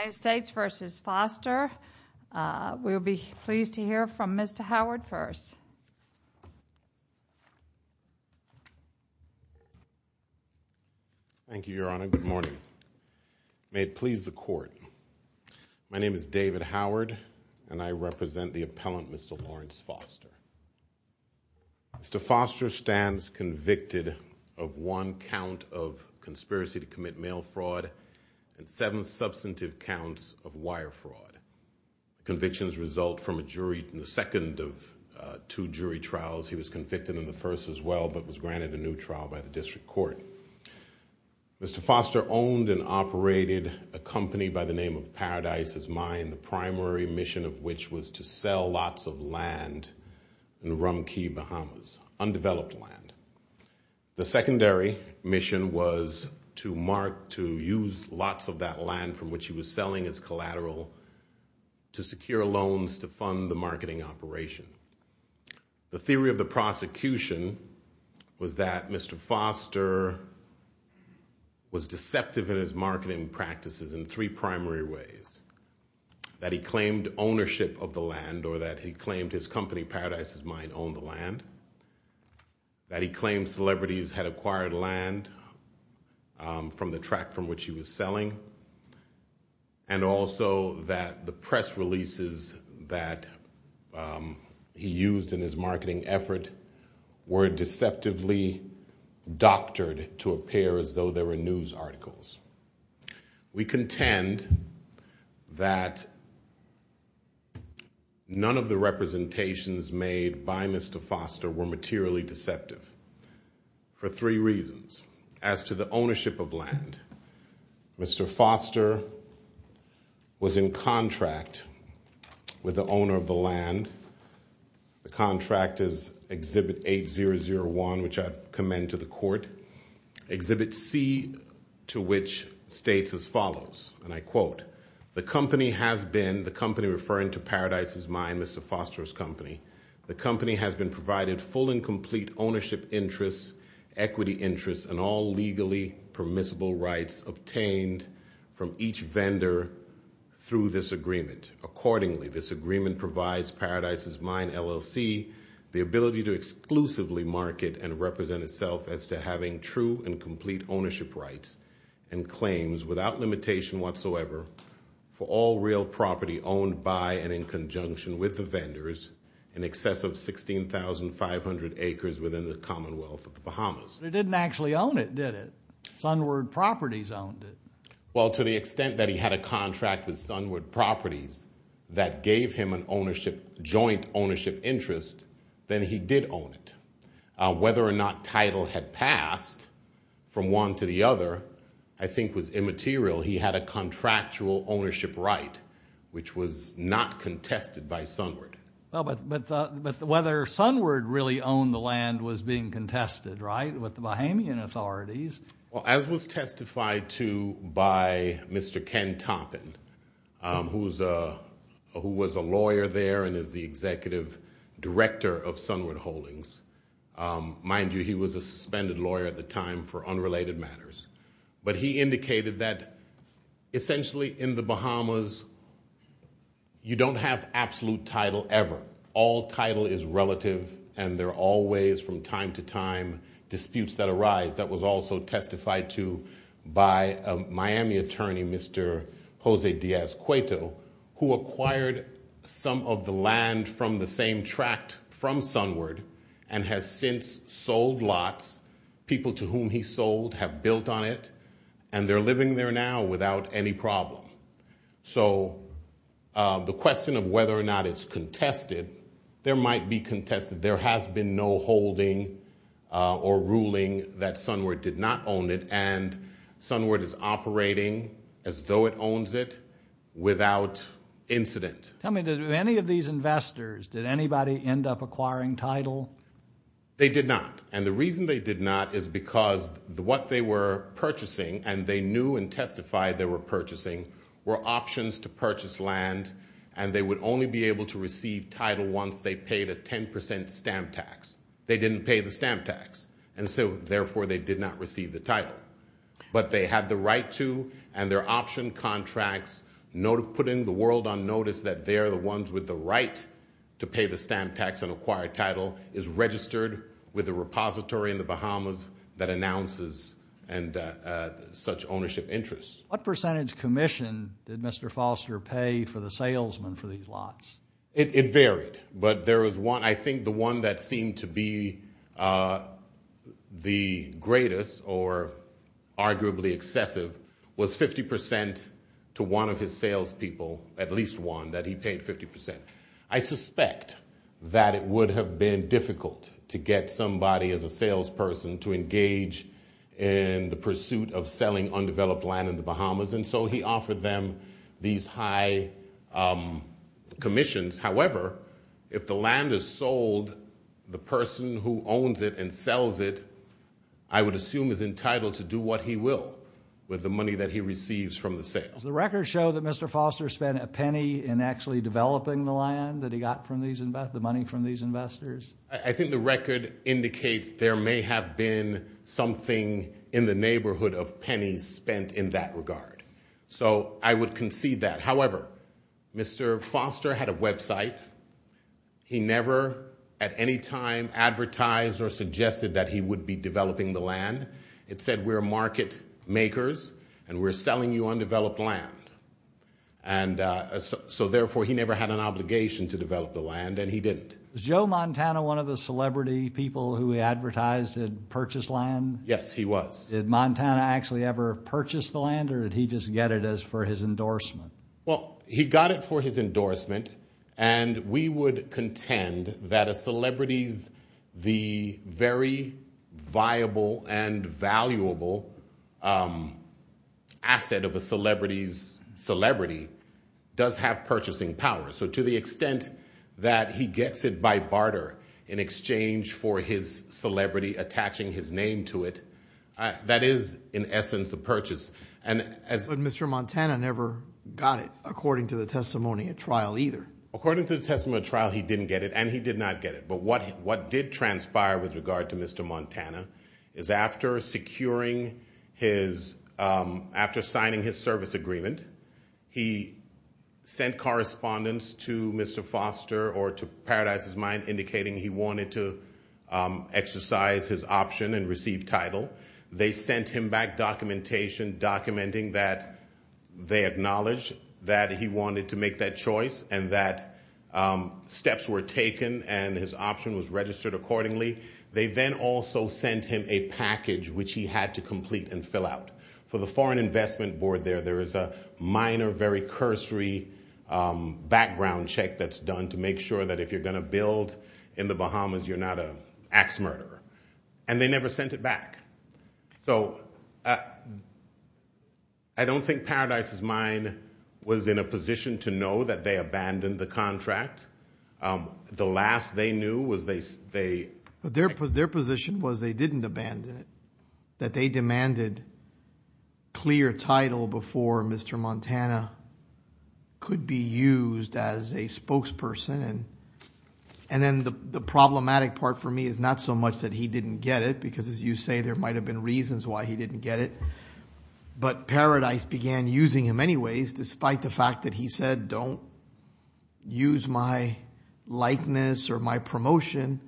United States v. Foster. We'll be pleased to hear from Mr. Howard first. Thank you, Your Honor. Good morning. May it please the Court. My name is David Howard and I represent the appellant, Mr. Lawrence Foster. Mr. Foster stands convicted of one count of conspiracy to commit mail fraud and seven substantive counts of wire fraud. Convictions result from a jury in the second of two jury trials. He was convicted in the first as well but was granted a new trial by the District Court. Mr. Foster owned and operated a company by the name of Paradise's Mine, the primary mission of which was to sell lots of land in Rumkey, Bahamas, undeveloped land. The secondary mission was to mark, to use lots of that land from which he was selling as collateral to secure loans to fund the marketing operation. The theory of the prosecution was that Mr. Foster was deceptive in his marketing practices in three primary ways, that he claimed ownership of the land or that he claimed his company, Paradise's Mine, owned the land, that he claimed celebrities had acquired land from the track from which he was selling, and also that the press releases that he used in his marketing effort were deceptively doctored to appear as though they were news articles. We contend that none of the representations made by Mr. Foster were materially deceptive for three reasons. As to the ownership of land, Mr. Foster was in contract with the owner of the land. The contract is Exhibit 8001, which I commend to the court. Exhibit C to which states as follows, and I quote, the company has been, the company referring to Paradise's Mine, Mr. Foster's company, the company has been provided full and complete ownership interests, equity interests, and all legally permissible rights obtained from each vendor through this agreement. Accordingly, this agreement provides Paradise's Mine, LLC, the ability to exclusively market and represent itself as to having true and complete ownership rights and claims without limitation whatsoever for all real property owned by and in conjunction with the vendors in excess of 16,500 acres within the Commonwealth of the Bahamas. He didn't actually own it, did he? Sunward Properties owned it. Well, to the extent that he had a contract with Sunward Properties that gave him an ownership, joint ownership interest, then he did own it. Whether or not title had passed from one to the other, I think was immaterial. He had a contractual ownership right, which was not contested by Sunward. Well, but whether Sunward really owned the land was being contested, right, with the Bahamian authorities. Well, as was testified to by Mr. Ken Toppin, who was a lawyer there and is the executive director of Sunward Holdings. Mind you, he was a suspended lawyer at the time for unrelated matters. But he indicated that essentially in the Bahamas, you don't have absolute title ever. All title is relative, and there are always from time to time disputes that arise. That was also testified to by a Miami attorney, Mr. Jose Diaz-Cueto, who acquired some of the land from the same tract from Sunward and has since sold lots. People to whom he sold have built on it, and they're living there now without any problem. So the question of whether or not it's contested, there might be contested. There has been no holding or ruling that Sunward did not own it, and Sunward is operating as though it owns it without incident. Tell me, did any of these investors, did anybody end up acquiring title? They did not. And the reason they did not is because what they were purchasing, and they knew and testified they were purchasing, were options to purchase land, and they would only be able to receive title once they paid a 10% stamp tax. They didn't pay the stamp tax, and so therefore they did not receive the title. But they had the right to, and their option contracts, putting the world on notice that they're the ones with the right to pay the stamp tax and acquire title, is registered with the repository in the Bahamas that announces such ownership interests. What percentage commission did Mr. Foster pay for the salesman for these lots? It varied, but there was one, I think the one that seemed to be the greatest or arguably excessive was 50% to one of his salespeople, at least one, that he paid 50%. I suspect that it would have been difficult to get somebody as a salesperson to engage in the pursuit of selling undeveloped land in the Bahamas, and so he offered them these high commissions. However, if the land is sold, the person who owns it and sells it, I would assume is entitled to do what he will with the money that he receives from the sales. The records show that Mr. Foster spent a penny in actually developing the land that he got from these, the money from these investors. I think the record indicates there may have been something in the neighborhood of pennies spent in that regard. So I would concede that. However, Mr. Foster had a website. He never at any time advertised or suggested that he would be developing the land. It said, we're market makers and we're selling you undeveloped land. And so therefore, he never had an obligation to develop the land and he didn't. Was Joe Montana one of the celebrity people who advertised and purchased land? Yes, he was. Did Montana actually ever purchase the land or did he just get it as for his endorsement? Well, he got it for his endorsement. And we would contend that a celebrity's, the very viable and valuable asset of a celebrity's celebrity does have purchasing power. So to the extent that he gets it by barter in exchange for his celebrity attaching his name to it, that is in essence a purchase. But Mr. Montana never got it according to the testimony at trial either. According to the testimony at trial, he didn't get it and he did not get it. But what did transpire with regard to Mr. Montana is after securing his, after signing his service agreement, he sent correspondence to Mr. Foster or to Paradise's option and received title. They sent him back documentation documenting that they acknowledged that he wanted to make that choice and that steps were taken and his option was registered accordingly. They then also sent him a package which he had to complete and fill out. For the Foreign Investment Board there, there is a minor, very cursory background check that's done to make sure that if you're going to build in the Bahamas, you're not an axe murderer. And they never sent it back. So I don't think Paradise's mind was in a position to know that they abandoned the contract. The last they knew was they... But their position was they didn't abandon it. That they demanded clear title before Mr. Montana could be used as a spokesperson. And then the problematic part for me is not so much that he didn't get it, because as you say, there might have been reasons why he didn't get it. But Paradise began using him anyways, despite the fact that he said, don't use my likeness or my promotion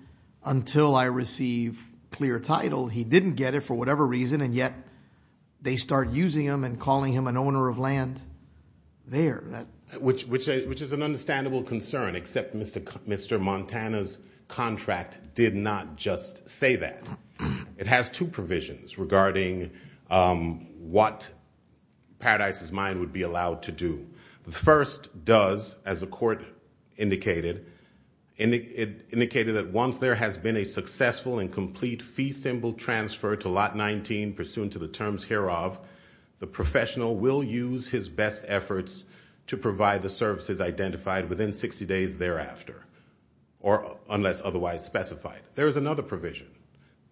until I receive clear title. He didn't get it for whatever reason and yet they start using him and calling him an owner of land there. Which is an understandable concern, except Mr. Montana's contract did not just say that. It has two provisions regarding what Paradise's mind would be allowed to do. The first does, as the court indicated, indicated that once there has been a successful and complete fee symbol transfer to lot 19, pursuant to the terms hereof, the professional will use his best efforts to provide the services identified within 60 days thereafter. Or unless otherwise specified. There is another provision.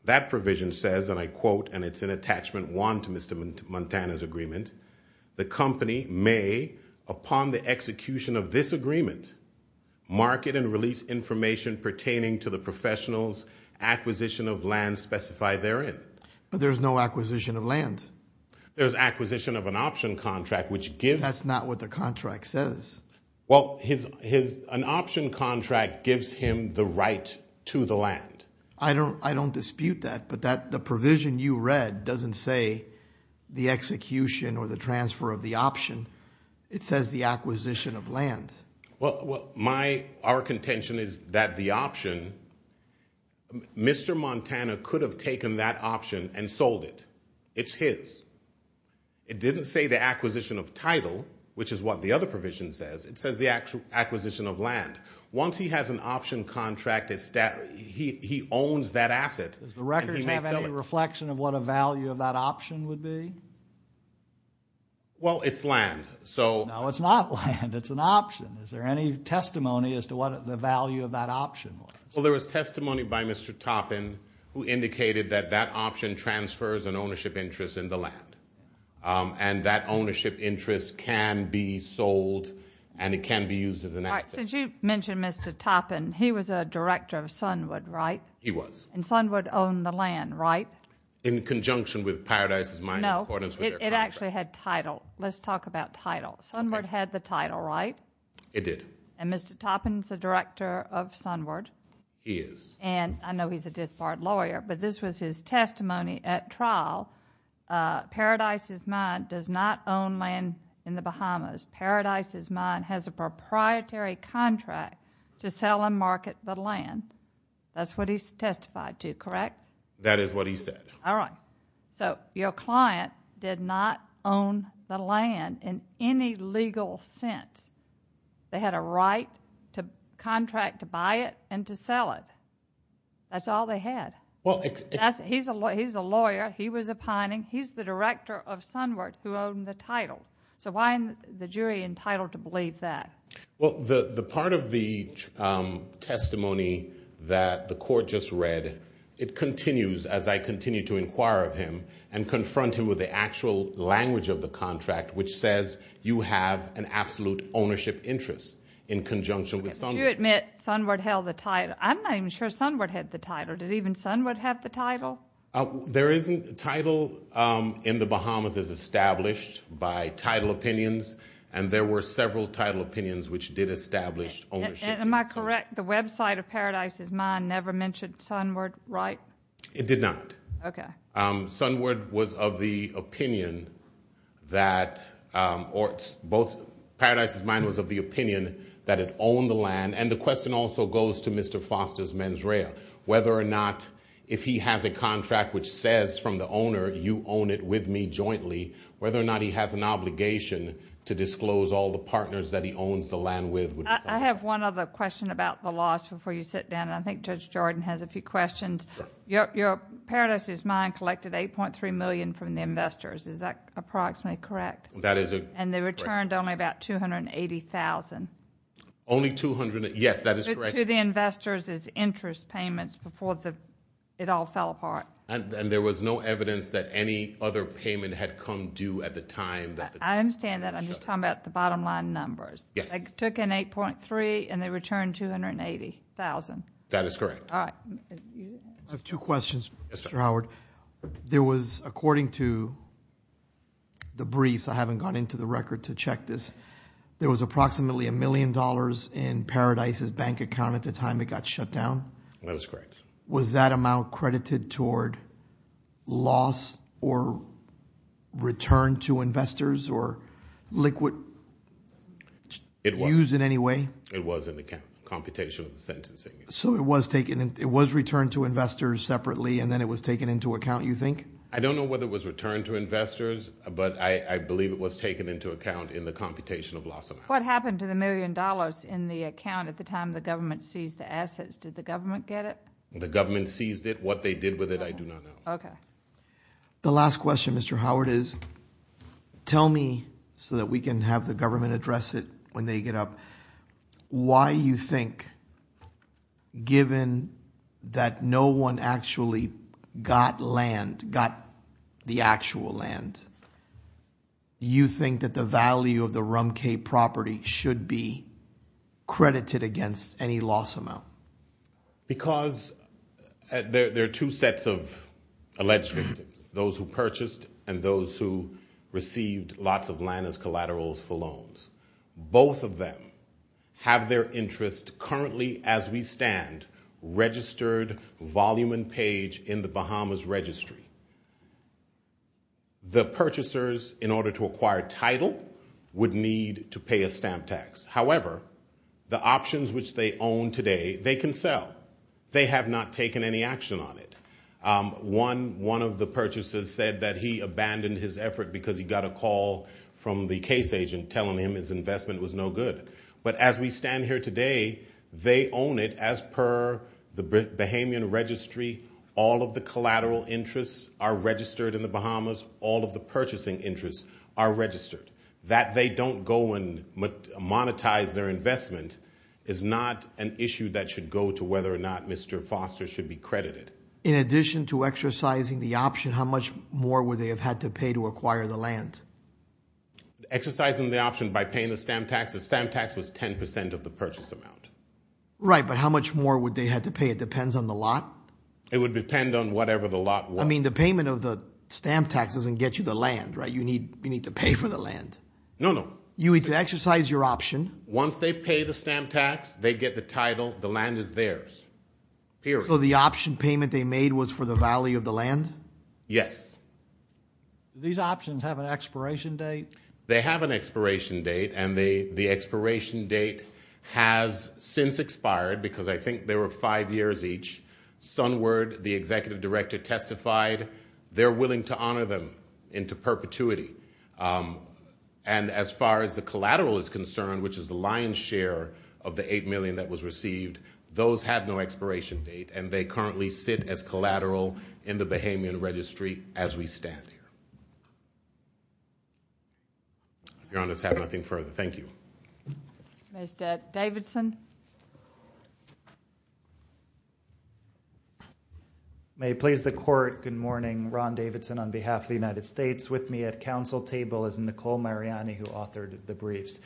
That provision says, and I quote, and it's an attachment won to Mr. Montana's agreement, the company may, upon the execution of this agreement, market and release information pertaining to the professional's acquisition of land specified therein. But there's no acquisition of land. There's acquisition of an option contract, which gives. That's not what the contract says. Well, his, his, an option contract gives him the right to the land. I don't, I don't dispute that. But that the provision you read doesn't say the execution or the transfer of the option. It says the acquisition of land. Well, my, our contention is that the option. Mr. Montana could have taken that option and sold it. It's his. It didn't say the acquisition of title, which is what the other provision says. It says the actual acquisition of land. Once he has an option contract, he owns that asset. Does the record have any reflection of what a value of that option would be? Well, it's land, so. No, it's not land. It's an option. Is there any testimony as to what the value of that option was? Well, there was testimony by Mr. Toppin, who indicated that that option transfers an ownership interest in the land. And that ownership interest can be sold and it can be used as an asset. Since you mentioned Mr. Toppin, he was a director of Sunwood, right? He was. And Sunwood owned the land, right? In conjunction with Paradise's mining. No, it actually had title. Let's talk about title. Sunwood had the title, right? It did. And Mr. Toppin's a director of Sunwood. He is. And I know he's a disbarred lawyer, but this was his testimony at trial. Paradise's mine does not own land in the Bahamas. Paradise's mine has a proprietary contract to sell and market the land. That's what he testified to, correct? That is what he said. All right. So your client did not own the land in any legal sense. They had a right to contract to buy it and to sell it. That's all they had. He's a lawyer. He was a pining. He's the director of Sunwood who owned the title. So why is the jury entitled to believe that? Well, the part of the testimony that the court just read, it continues as I continue to inquire of him and confront him with the actual language of the contract, which says you have an absolute ownership interest in conjunction with Sunwood. You admit Sunwood held the title. I'm not even sure Sunwood had the title. Did even Sunwood have the title? There isn't. Title in the Bahamas is established by title opinions, and there were several title opinions which did establish ownership. Am I correct? The website of Paradise's mine never mentioned Sunwood, right? It did not. Okay. Sunwood was of the opinion that or both Paradise's mine was of the opinion that it owned the which says from the owner, you own it with me jointly, whether or not he has an obligation to disclose all the partners that he owns the land with. I have one other question about the loss before you sit down. And I think Judge Jordan has a few questions. Your Paradise's mine collected $8.3 million from the investors. Is that approximately correct? That is correct. And they returned only about $280,000. Only $280,000. Yes, that is correct. To the investors as interest payments before it all fell apart. And there was no evidence that any other payment had come due at the time. I understand that. I'm just talking about the bottom line numbers. Yes. They took in $8.3 million, and they returned $280,000. That is correct. All right. I have two questions, Mr. Howard. There was, according to the briefs, I haven't gone into the record to check this. There was approximately $1 million in Paradise's bank account at the time it got shut down. That is correct. Was that amount credited toward loss or return to investors or liquid use in any way? It was in the computation of the sentencing. So it was returned to investors separately, and then it was taken into account, you think? I don't know whether it was returned to investors, but I believe it was taken into account in the computation of loss amount. What happened to the $1 million in the account at the time the government seized the assets? Did the government get it? The government seized it. What they did with it, I do not know. Okay. The last question, Mr. Howard, is tell me, so that we can have the government address it when they get up, why you think, given that no one actually got land, got the actual land, you think that the value of the Rumcay property should be credited against any loss amount? Because there are two sets of alleged victims, those who purchased and those who received lots of land as collaterals for loans. Both of them have their interest currently, as we stand, registered volume and page in the Bahamas Registry. The purchasers, in order to acquire title, would need to pay a stamp tax. However, the options which they own today, they can sell. They have not taken any action on it. One of the purchasers said that he abandoned his effort because he got a call from the case agent telling him his investment was no good. But as we stand here today, they own it as per the Bahamian Registry, all of the collateral interests are registered in the Bahamas, all of the purchasing interests are registered. That they don't go and monetize their investment is not an issue that should go to whether or not Mr. Foster should be credited. In addition to exercising the option, how much more would they have had to pay to acquire the land? Exercising the option by paying the stamp tax, the stamp tax was 10% of the purchase amount. Right, but how much more would they have to pay? It depends on the lot. It would depend on whatever the lot was. I mean, the payment of the stamp tax doesn't get you the land, right? You need to pay for the land. No, no. You need to exercise your option. Once they pay the stamp tax, they get the title, the land is theirs, period. So the option payment they made was for the value of the land? Yes. Do these options have an expiration date? They have an expiration date and the expiration date has since expired because I think there were five years each. Sunward, the executive director, testified they're willing to honor them into perpetuity. And as far as the collateral is concerned, which is the lion's share of the $8 million that was received, those have no expiration date and they currently sit as collateral in the Bahamian Registry as we stand here. Your Honor, I have nothing further. Thank you. Ms. Davidson. May it please the Court, good morning. Ron Davidson on behalf of the United States. With me at council table is Nicole Mariani who authored the briefs.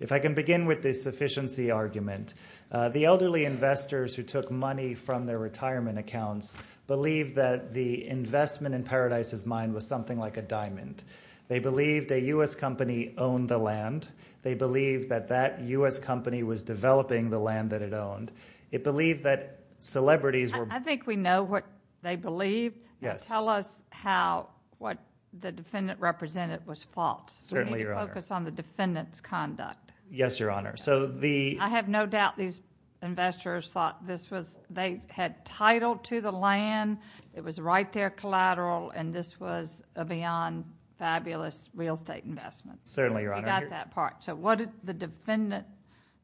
If I can begin with the sufficiency argument. The elderly investors who took money from their retirement accounts believe that the investment in Paradise's mine was something like a diamond. They believed a U.S. company owned the land. They believed that that U.S. company was developing the land that it owned. It believed that celebrities were- I think we know what they believe. Yes. Tell us how, what the defendant represented was false. Certainly, Your Honor. Focus on the defendant's conduct. Yes, Your Honor. So the- I have no doubt these investors thought this was, they had title to the land. It was right there collateral and this was a beyond fabulous real estate investment. Certainly, Your Honor. So what did the defendant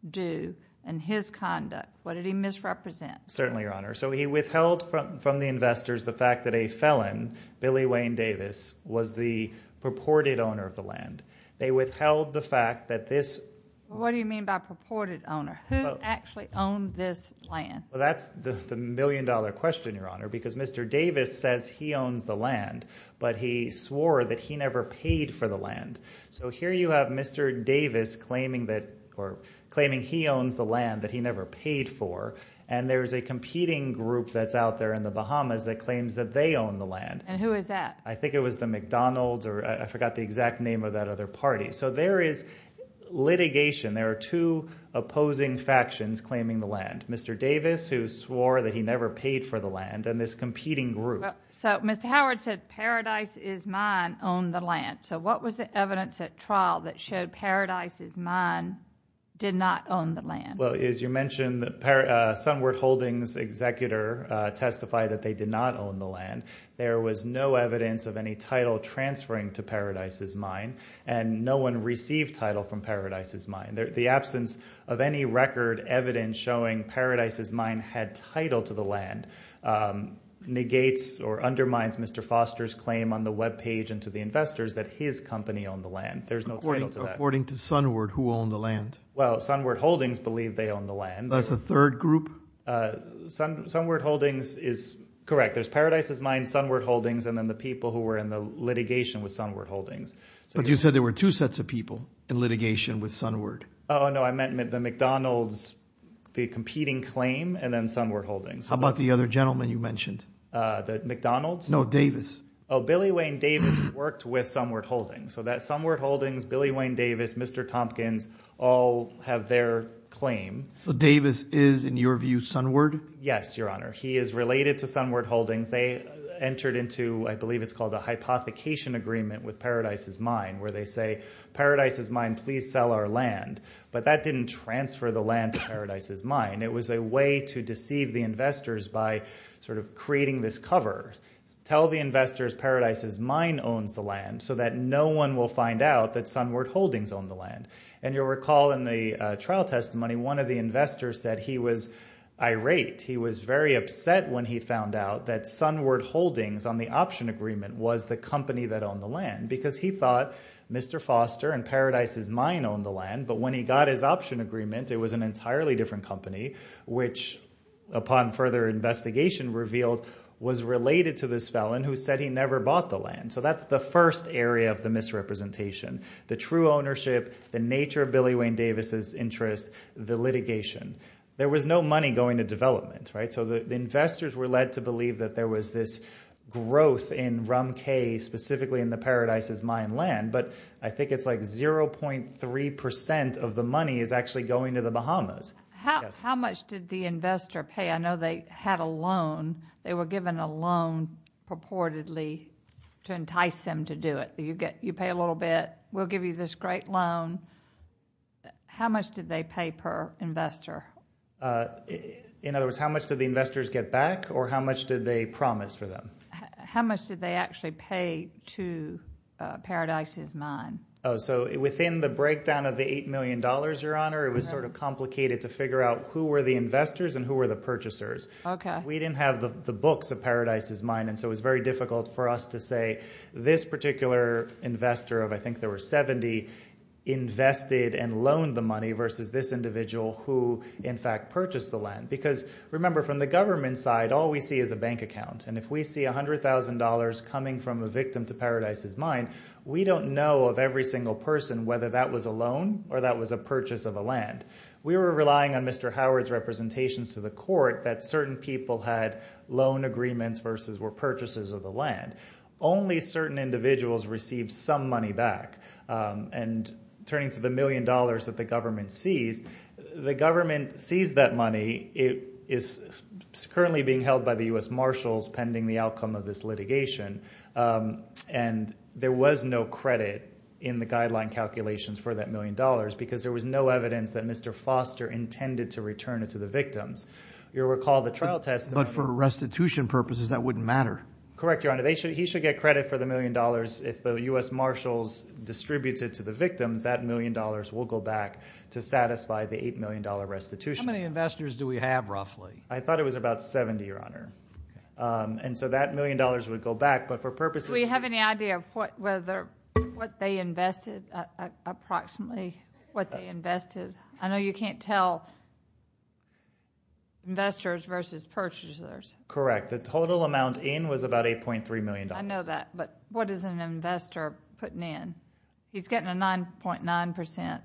do in his conduct? What did he misrepresent? Certainly, Your Honor. So he withheld from the investors the fact that a felon, Billy Wayne Davis, was the purported owner of the land. They withheld the fact that this- What do you mean by purported owner? Who actually owned this land? Well, that's the million dollar question, Your Honor, because Mr. Davis says he owns the land, but he swore that he never paid for the land. So here you have Mr. Davis claiming that, or claiming he owns the land that he never paid for. And there's a competing group that's out there in the Bahamas that claims that they own the land. And who is that? I think it was the McDonald's or I forgot the exact name of that other party. So there is litigation. There are two opposing factions claiming the land. Mr. Davis, who swore that he never paid for the land, and this competing group. So Mr. Howard said, Paradise is mine, own the land. So what was the evidence at trial that showed Paradise is mine, did not own the land? Well, as you mentioned, Sunward Holdings executor testified that they did not own the land. There was no evidence of any title transferring to Paradise is mine. And no one received title from Paradise is mine. The absence of any record evidence showing Paradise is mine had title to the land negates or undermines Mr. Foster's claim on the webpage and to the investors that his company owned the land. There's no title to that. According to Sunward, who owned the land? Well, Sunward Holdings believe they own the land. That's a third group? Sunward Holdings is correct. There's Paradise is mine, Sunward Holdings, and then the people who were in the litigation with Sunward Holdings. But you said there were two sets of people in litigation with Sunward. Oh, no, I meant the McDonald's, the competing claim, and then Sunward Holdings. How about the other gentleman you mentioned? The McDonald's? No, Davis. Oh, Billy Wayne Davis worked with Sunward Holdings. So that Sunward Holdings, Billy Wayne Davis, Mr. Tompkins all have their claim. So Davis is, in your view, Sunward? Yes, your honor. He is related to Sunward Holdings. They entered into, I believe it's called a hypothecation agreement with Paradise is mine, where they say Paradise is mine, please sell our land. But that didn't transfer the land to Paradise is mine. It was a way to deceive the investors by sort of creating this cover. Tell the investors Paradise is mine owns the land so that no one will find out that Sunward Holdings owned the land. And you'll recall in the trial testimony, one of the investors said he was irate. He was very upset when he found out that Sunward Holdings on the option agreement was the company that owned the land. Because he thought Mr. Foster and Paradise is mine owned the land. But when he got his option agreement, it was an entirely different company, which upon further investigation revealed was related to this felon who said he never bought the land. So that's the first area of the misrepresentation. The true ownership, the nature of Billy Wayne Davis's interest, the litigation. There was no money going to development, right? So the investors were led to believe that there was this growth in Rum K, specifically in the Paradise is mine land. But I think it's like 0.3% of the money is actually going to the Bahamas. How much did the investor pay? I know they had a loan. They were given a loan purportedly to entice them to do it. You get you pay a little bit. We'll give you this great loan. How much did they pay per investor? In other words, how much did the investors get back or how much did they promise for them? How much did they actually pay to Paradise is mine? Oh, so within the breakdown of the $8 million, your honor, it was sort of complicated to figure out who were the investors and who were the purchasers. We didn't have the books of Paradise is mine. And so it was very difficult for us to say this particular investor of I think there were 70 invested and loaned the money versus this individual who in fact purchased the land. Because remember, from the government side, all we see is a bank account. And if we see $100,000 coming from a victim to Paradise is mine, we don't know of every single person whether that was a loan or that was a purchase of a land. We were relying on Mr. Howard's representations to the court that certain people had loan agreements versus were purchases of the land. Only certain individuals received some money back. And turning to the million dollars that the government sees, the government sees that money. It is currently being held by the U.S. Marshals pending the outcome of this litigation. And there was no credit in the guideline calculations for that million dollars because there was no evidence that Mr. Foster intended to return it to the victims. You'll recall the trial test. But for restitution purposes, that wouldn't matter. Correct, your honor. He should get credit for the million dollars if the U.S. Marshals distributes it to the victims, that million dollars will go back to satisfy the $8 million restitution. How many investors do we have, roughly? I thought it was about 70, your honor. And so that million dollars would go back. But for purposes... Do we have any idea of what they invested, approximately what they invested? I know you can't tell investors versus purchasers. Correct. The total amount in was about $8.3 million. I know that. What is an investor putting in? He's getting a 9.9%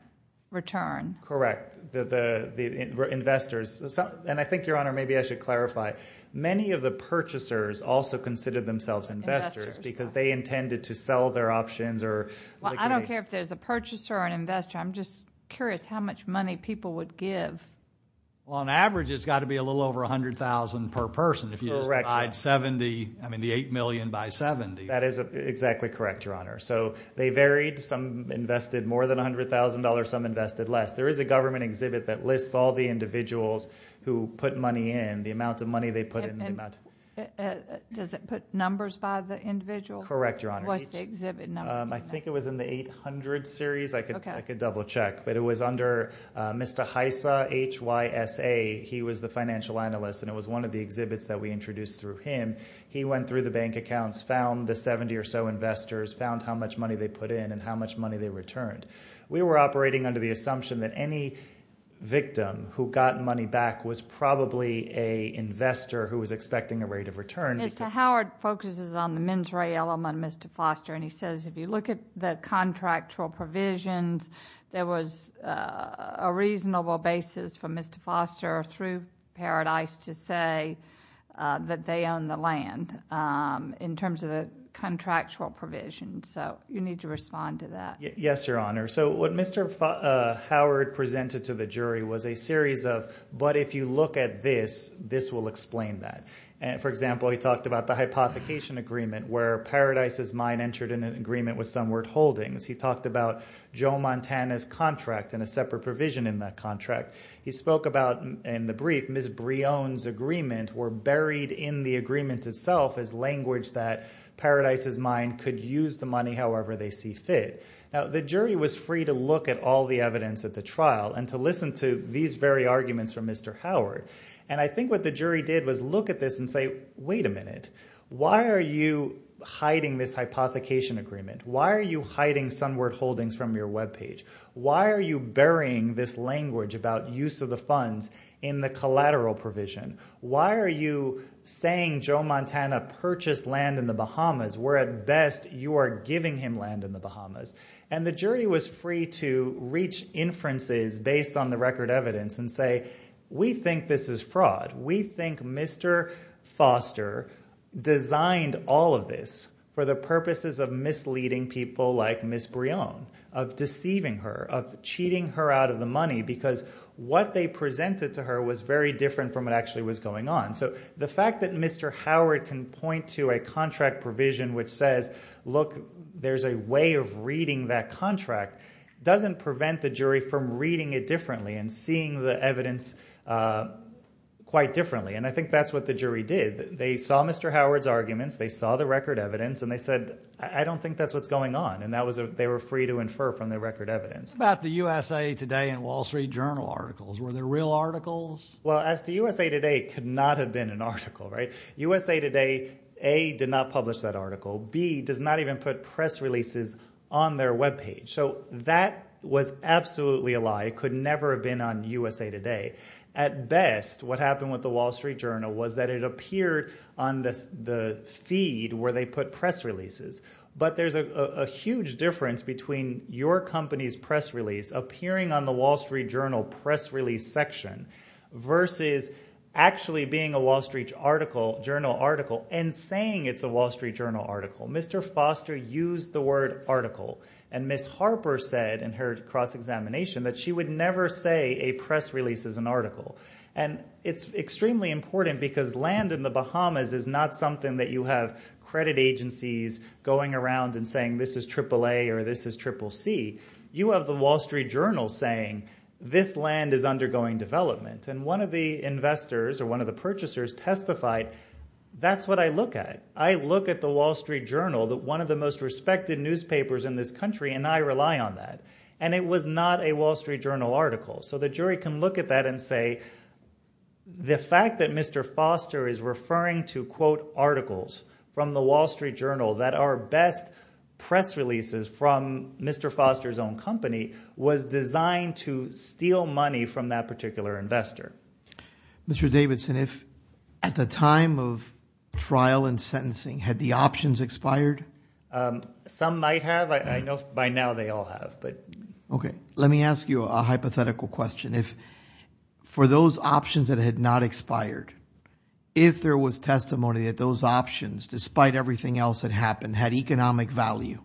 return. Correct, the investors. And I think, your honor, maybe I should clarify. Many of the purchasers also consider themselves investors because they intended to sell their options or... Well, I don't care if there's a purchaser or an investor. I'm just curious how much money people would give. Well, on average, it's got to be a little over $100,000 per person. If you divide 70, I mean, the $8 million by 70. Exactly correct, your honor. So they varied. Some invested more than $100,000. Some invested less. There is a government exhibit that lists all the individuals who put money in, the amount of money they put in. Does it put numbers by the individual? Correct, your honor. What's the exhibit number? I think it was in the 800 series. I could double check. But it was under Mr. Hysa, H-Y-S-A. He was the financial analyst. And it was one of the exhibits that we introduced through him. He went through the bank accounts, found the 70 or so investors, found how much money they put in and how much money they returned. We were operating under the assumption that any victim who got money back was probably a investor who was expecting a rate of return. Mr. Howard focuses on the mens rea element of Mr. Foster. And he says, if you look at the contractual provisions, there was a reasonable basis for Mr. Foster through Paradise to say that they own the land in terms of the contractual provision. So you need to respond to that. Yes, your honor. So what Mr. Howard presented to the jury was a series of, but if you look at this, this will explain that. For example, he talked about the hypothecation agreement where Paradise's mine entered in an agreement with Sunward Holdings. He talked about Joe Montana's contract and a separate provision in that contract. He spoke about in the brief, Ms. Brion's agreement were buried in the agreement itself as language that Paradise's mine could use the money however they see fit. Now, the jury was free to look at all the evidence at the trial and to listen to these very arguments from Mr. Howard. And I think what the jury did was look at this and say, wait a minute, why are you hiding this hypothecation agreement? Why are you hiding Sunward Holdings from your webpage? Why are you burying this language about use of the funds in the collateral provision? Why are you saying Joe Montana purchased land in the Bahamas where at best you are giving him land in the Bahamas? And the jury was free to reach inferences based on the record evidence and say, we think this is fraud. We think Mr. Foster designed all of this for the purposes of misleading people like Ms. Brion, of deceiving her, of cheating her out of the money, because what they presented to her was very different from what actually was going on. So the fact that Mr. Howard can point to a contract provision which says, look, there's a way of reading that contract, doesn't prevent the jury from reading it differently and seeing the evidence quite differently. And I think that's what the jury did. They saw Mr. Howard's arguments. They saw the record evidence. And they said, I don't think that's what's going on. They were free to infer from the record evidence. What about the USA Today and Wall Street Journal articles? Were there real articles? Well, as to USA Today, it could not have been an article, right? USA Today, A, did not publish that article. B, does not even put press releases on their webpage. So that was absolutely a lie. It could never have been on USA Today. At best, what happened with the Wall Street Journal was that it appeared on the feed where they put press releases. But there's a huge difference between your company's press release appearing on the Wall Street Journal press release section versus actually being a Wall Street Journal article and saying it's a Wall Street Journal article. Mr. Foster used the word article. And Ms. Harper said in her cross-examination that she would never say a press release is an article. And it's extremely important because land in the Bahamas is not something that you have credit agencies going around and saying, this is triple A or this is triple C. You have the Wall Street Journal saying, this land is undergoing development. And one of the investors or one of the purchasers testified, that's what I look at. I look at the Wall Street Journal, one of the most respected newspapers in this country, and I rely on that. And it was not a Wall Street Journal article. So the jury can look at that and say, the fact that Mr. Foster is referring to, quote, articles from the Wall Street Journal that are best press releases from Mr. Foster's own company was designed to steal money from that particular investor. Mr. Davidson, if at the time of trial and sentencing had the options expired? Some might have. I know by now they all have. But okay. Let me ask you a hypothetical question. If for those options that had not expired, if there was testimony that those options, despite everything else that happened, had economic value,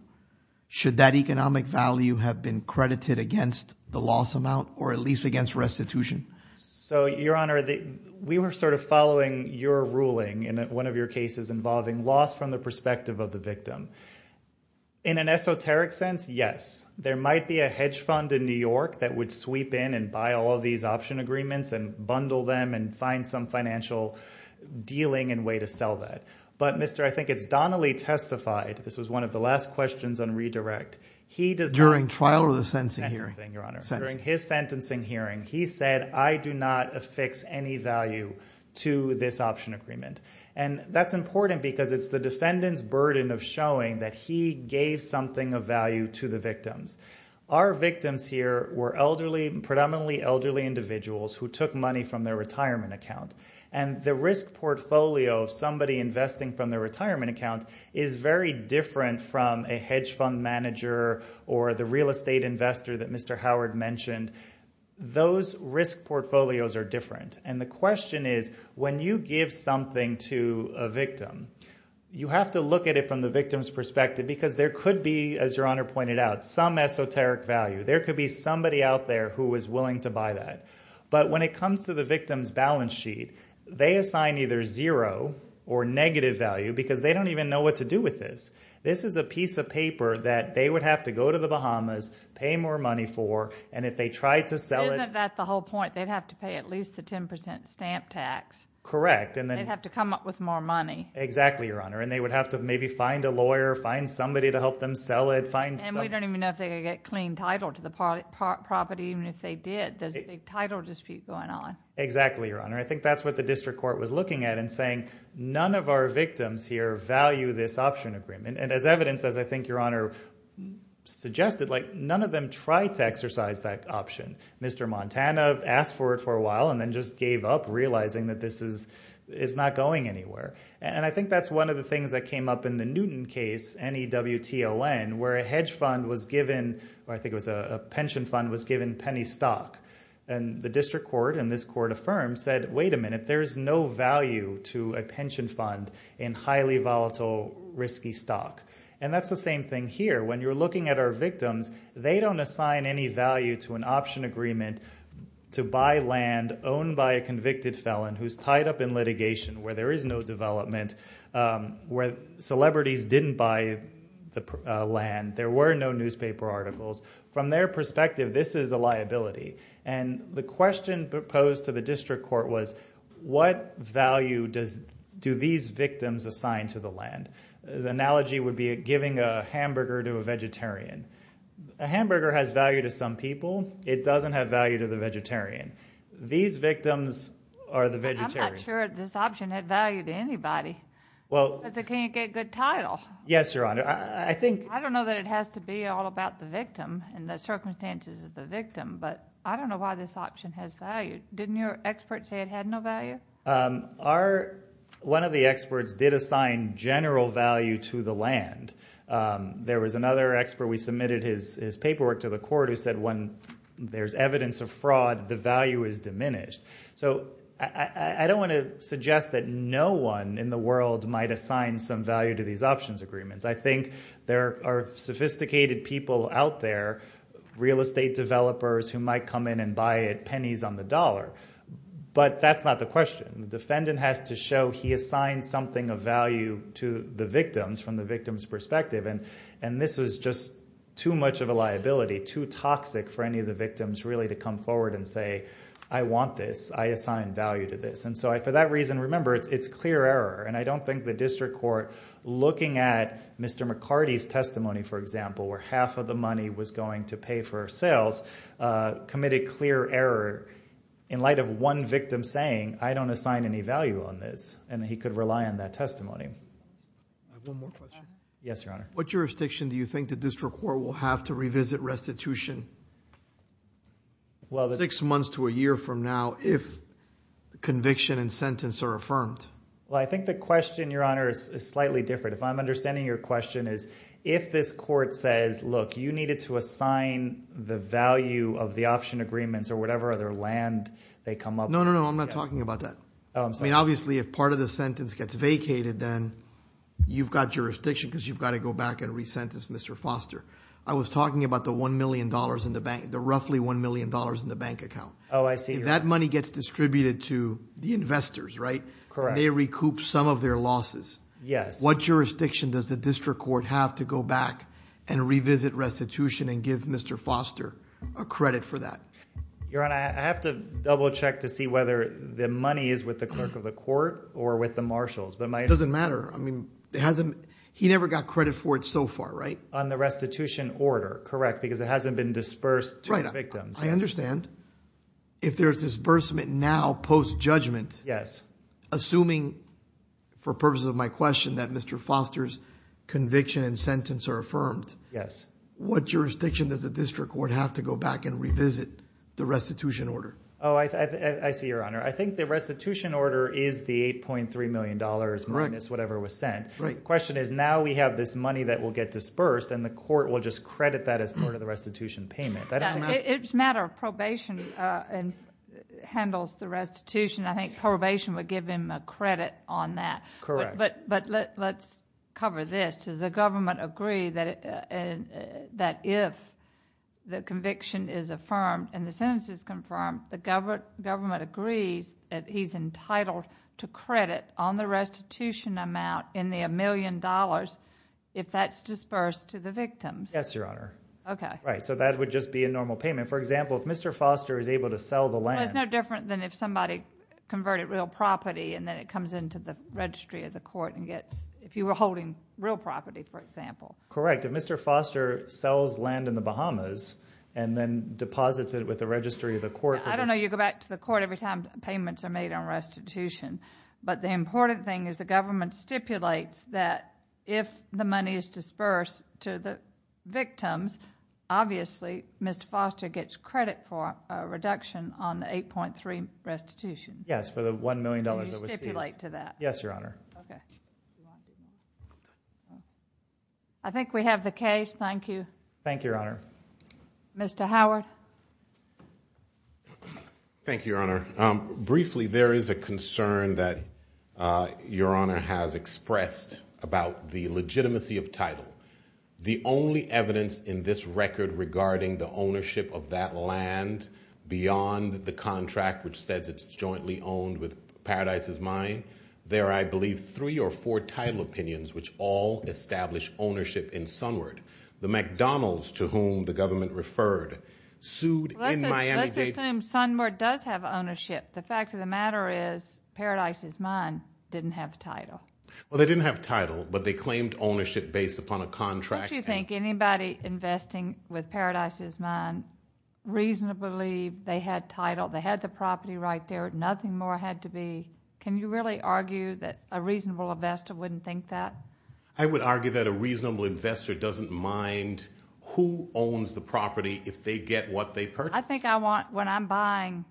should that economic value have been credited against the loss amount or at least against restitution? So your honor, we were sort of following your ruling in one of your cases involving loss from the perspective of the victim. In an esoteric sense, yes. There might be a hedge fund in New York that would sweep in and buy all of these option agreements and bundle them and find some financial dealing and way to sell that. But, Mr., I think it's Donnelly testified. This was one of the last questions on redirect. He does not- During trial or the sentencing hearing? Sentencing, your honor. During his sentencing hearing, he said, I do not affix any value to this option agreement. And that's important because it's the defendant's burden of showing that he gave something of value to the victims. Our victims here were elderly, predominantly elderly individuals who took money from their retirement account. And the risk portfolio of somebody investing from their retirement account is very different from a hedge fund manager or the real estate investor that Mr. Howard mentioned. Those risk portfolios are different. And the question is, when you give something to a victim, you have to look at it from the victim's perspective because there could be, as your honor pointed out, some esoteric value. There could be somebody out there who is willing to buy that. But when it comes to the victim's balance sheet, they assign either zero or negative value because they don't even know what to do with this. This is a piece of paper that they would have to go to the Bahamas, pay more money for, and if they tried to sell it- Isn't that the whole point? They'd have to pay at least the 10% stamp tax. Correct. And then- They'd have to come up with more money. Exactly, your honor. And they would have to maybe find a lawyer, find somebody to help them sell it, find some- And we don't even know if they could get clean title to the property, even if they did. There's a big title dispute going on. Exactly, your honor. I think that's what the district court was looking at and saying, none of our victims here value this option agreement. And as evidenced, as I think your honor suggested, none of them tried to exercise that option. Mr. Montana asked for it for a while and then just gave up, realizing that this is not going anywhere. And I think that's one of the things that came up in the Newton case, N-E-W-T-O-N, where a hedge fund was given, or I think it was a pension fund, was given penny stock. And the district court, and this court affirmed, said, wait a minute, there's no value to a pension fund in highly volatile, risky stock. And that's the same thing here. When you're looking at our victims, they don't assign any value to an option agreement to buy land owned by a convicted felon who's tied up in litigation, where there is no development, where celebrities didn't buy the land, there were no newspaper articles. From their perspective, this is a liability. And the question proposed to the district court was, what value do these victims assign to the land? The analogy would be giving a hamburger to a vegetarian. A hamburger has value to some people. It doesn't have value to the vegetarian. These victims are the vegetarians. I'm not sure this option had value to anybody. Because they can't get good title. Yes, Your Honor, I think... I don't know that it has to be all about the victim and the circumstances of the victim, but I don't know why this option has value. Didn't your expert say it had no value? One of the experts did assign general value to the land. There was another expert, we submitted his paperwork to the court, who said when there's evidence of fraud, the value is diminished. So I don't want to suggest that no one in the world might assign some value to these options agreements. I think there are sophisticated people out there, real estate developers who might come in and buy it pennies on the dollar. But that's not the question. The defendant has to show he assigned something of value to the victims from the victim's perspective. And this was just too much of a liability, too toxic for any of the victims really to come forward and say, I want this, I assign value to this. And so for that reason, remember, it's clear error. And I don't think the district court, looking at Mr. McCarty's testimony, for example, where half of the money was going to pay for sales, committed clear error in light of one victim saying, I don't assign any value on this. And he could rely on that testimony. I have one more question. Yes, Your Honor. What jurisdiction do you think the district court will have to revisit restitution? Well, six months to a year from now, if the conviction and sentence are affirmed? Well, I think the question, Your Honor, is slightly different. If I'm understanding your question is, if this court says, look, you needed to assign the value of the option agreements or whatever other land they come up with. No, no, no, I'm not talking about that. Oh, I'm sorry. I mean, obviously, if part of the sentence gets vacated, then you've got jurisdiction because you've got to go back and re-sentence Mr. Foster. I was talking about the $1 million in the bank, the roughly $1 million in the bank account. Oh, I see. That money gets distributed to the investors, right? Correct. They recoup some of their losses. Yes. What jurisdiction does the district court have to go back and revisit restitution and give Mr. Foster a credit for that? Your Honor, I have to double check to see whether the money is with the clerk of the court or with the marshals, but my- Doesn't matter. I mean, it hasn't, he never got credit for it so far, right? On the restitution order. Correct, because it hasn't been dispersed to the victims. I understand. If there's disbursement now post-judgment- Yes. Assuming, for purposes of my question, that Mr. Foster's conviction and sentence are affirmed- Yes. What jurisdiction does the district court have to go back and revisit the restitution order? Oh, I see, Your Honor. I think the restitution order is the $8.3 million minus whatever was sent. Right. The question is, now we have this money that will get the restitution payment. It's a matter of probation and handles the restitution. I think probation would give him a credit on that. Correct. But let's cover this. Does the government agree that if the conviction is affirmed and the sentence is confirmed, the government agrees that he's entitled to credit on the restitution amount in the $1 million if that's dispersed to the victims? Yes, Your Honor. Right. So that would just be a normal payment. For example, if Mr. Foster is able to sell the land- Well, it's no different than if somebody converted real property and then it comes into the registry of the court and gets- if you were holding real property, for example. Correct. If Mr. Foster sells land in the Bahamas and then deposits it with the registry of the court- I don't know. You go back to the court every time payments are made on restitution. But the important thing is the government stipulates that if the money is dispersed to the victims, obviously Mr. Foster gets credit for a reduction on the $8.3 million restitution. Yes, for the $1 million that was seized. And you stipulate to that. Yes, Your Honor. Okay. I think we have the case. Thank you, Your Honor. Mr. Howard. Thank you, Your Honor. Briefly, there is a concern that Your Honor has expressed about the legitimacy of title. The only evidence in this record regarding the ownership of that land beyond the contract, which says it's jointly owned with Paradise is Mine, there are, I believe, three or four title opinions which all establish ownership in Sunward. The McDonald's to whom the government referred sued in Miami- Let's assume Sunward does have ownership. The fact of the matter is Paradise is Mine didn't have the title. Well, they didn't have title, but they claimed ownership based upon a contract. Don't you think anybody investing with Paradise is Mine reasonably, they had title, they had the property right there. Nothing more had to be. Can you really argue that a reasonable investor wouldn't think that? I would argue that a reasonable investor doesn't mind who owns the property if they get what they purchased. I think I want, when I'm buying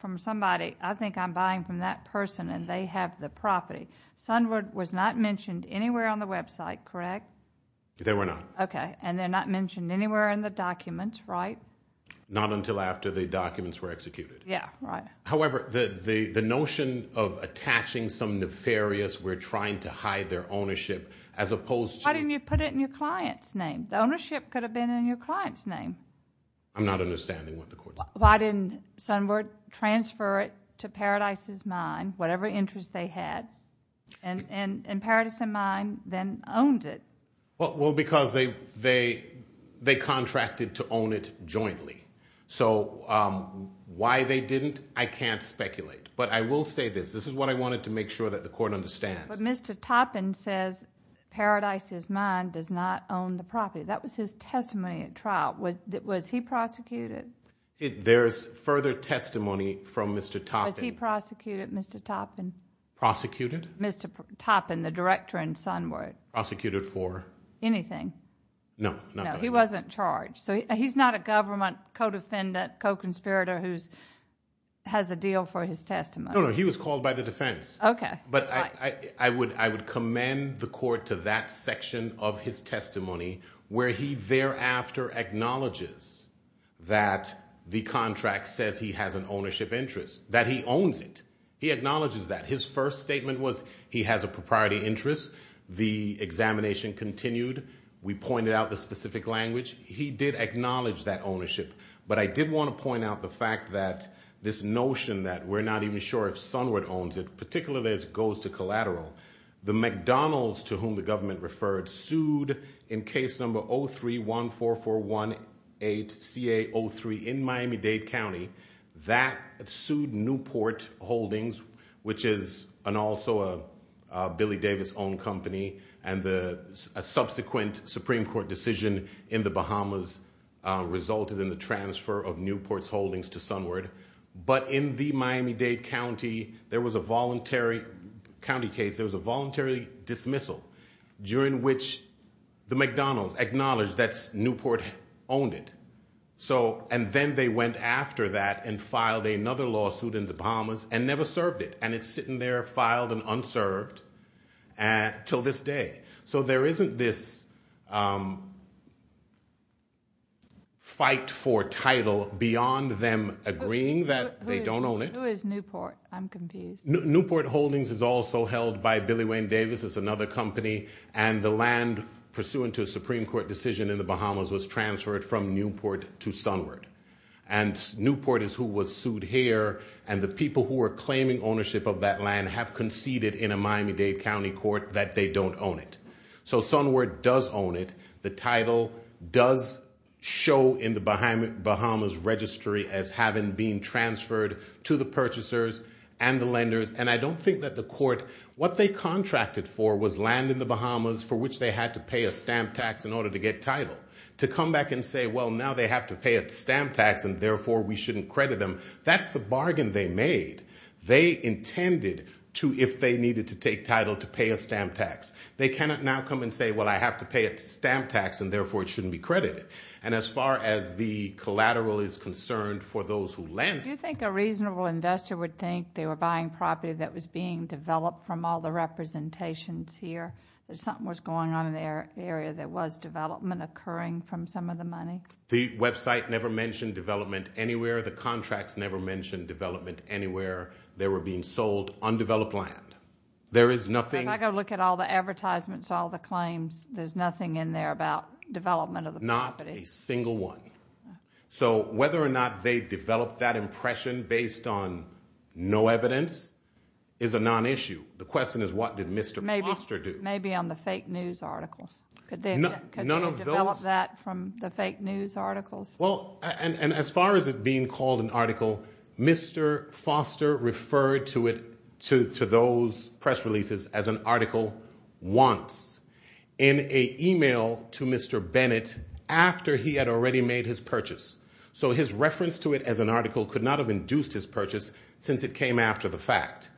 from somebody, I think I'm buying from that person and they have the property. Sunward was not mentioned anywhere on the website, correct? They were not. Okay. And they're not mentioned anywhere in the documents, right? Not until after the documents were executed. Yeah, right. However, the notion of attaching some nefarious, we're trying to hide their ownership as opposed to- Why didn't you put it in your client's name? The ownership could have been in your client's name. I'm not understanding what the court said. Why didn't Sunward transfer it to Paradise is Mine, whatever interest they had, and Paradise is Mine then owned it? Well, because they contracted to own it jointly. So why they didn't, I can't speculate. But I will say this. This is what I wanted to make sure that the court understands. But Mr. Toppin says Paradise is Mine does not own the property. That was his testimony at trial. Was he prosecuted? There's further testimony from Mr. Toppin. Was he prosecuted, Mr. Toppin? Prosecuted? Mr. Toppin, the director in Sunward. Prosecuted for? Anything. No, not that. He wasn't charged. So he's not a government co-defendant, co-conspirator who has a deal for his testimony. No, no. He was called by the defense. Okay. But I would commend the court to that section of his testimony where he thereafter acknowledges that the contract says he has an ownership interest. That he owns it. He acknowledges that. His first statement was he has a propriety interest. The examination continued. We pointed out the specific language. He did acknowledge that ownership. But I did want to point out the fact that this notion that we're not even sure if Sunward owns it, particularly as it goes to collateral. The McDonald's, to whom the government referred, sued in case number 0314418CA03 in Miami-Dade County. That sued Newport Holdings, which is also a Billy Davis-owned company. And a subsequent Supreme Court decision in the Bahamas resulted in the transfer of Newport's holdings to Sunward. But in the Miami-Dade County, there was a voluntary county case. There was a voluntary dismissal during which the McDonald's acknowledged that Newport owned it. And then they went after that and filed another lawsuit in the Bahamas and never served it. And it's sitting there filed and unserved until this day. So there isn't this fight for title beyond them agreeing that they don't own it. Who is Newport? I'm confused. Newport Holdings is also held by Billy Wayne Davis. It's another company. And the land, pursuant to a Supreme Court decision in the Bahamas, was transferred from Newport to Sunward. And Newport is who was sued here. And the people who are claiming ownership of that land have conceded in a Miami-Dade Court that they don't own it. So Sunward does own it. The title does show in the Bahamas registry as having been transferred to the purchasers and the lenders. And I don't think that the court, what they contracted for was land in the Bahamas for which they had to pay a stamp tax in order to get title. To come back and say, well, now they have to pay a stamp tax and therefore we shouldn't credit them. That's the bargain they made. They intended to, if they needed to take title, to pay a stamp tax. They cannot now come and say, well, I have to pay a stamp tax and therefore it shouldn't be credited. And as far as the collateral is concerned for those who lend. Do you think a reasonable investor would think they were buying property that was being developed from all the representations here? That something was going on in their area that was development occurring from some of the money? The website never mentioned development anywhere. The contracts never mentioned development anywhere. They were being sold undeveloped land. There is nothing. If I go look at all the advertisements, all the claims, there's nothing in there about development of the property. Not a single one. So whether or not they developed that impression based on no evidence is a non-issue. The question is, what did Mr. Foster do? Maybe on the fake news articles. Could they develop that from the fake news articles? Well, and as far as it being called an article, Mr. Foster referred to it, to those press releases as an article once in a email to Mr. Bennett after he had already made his purchase. So his reference to it as an article could not have induced his purchase since it came after the fact.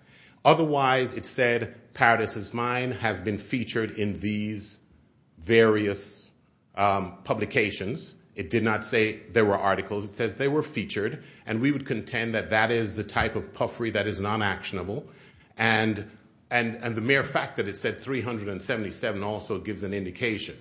Otherwise, it said Paradise is Mine has been featured in these various publications. It did not say there were articles. It says they were featured. And we would contend that that is the type of puffery that is non-actionable. And the mere fact that it said 377 also gives an indication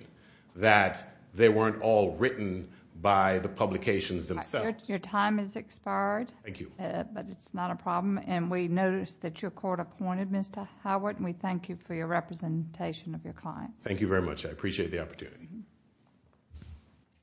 that they weren't all written by the publications themselves. Your time has expired. Thank you. But it's not a problem. And we notice that your court appointed Mr. Howard. And we thank you for your representation of your client. Thank you very much. I appreciate the opportunity.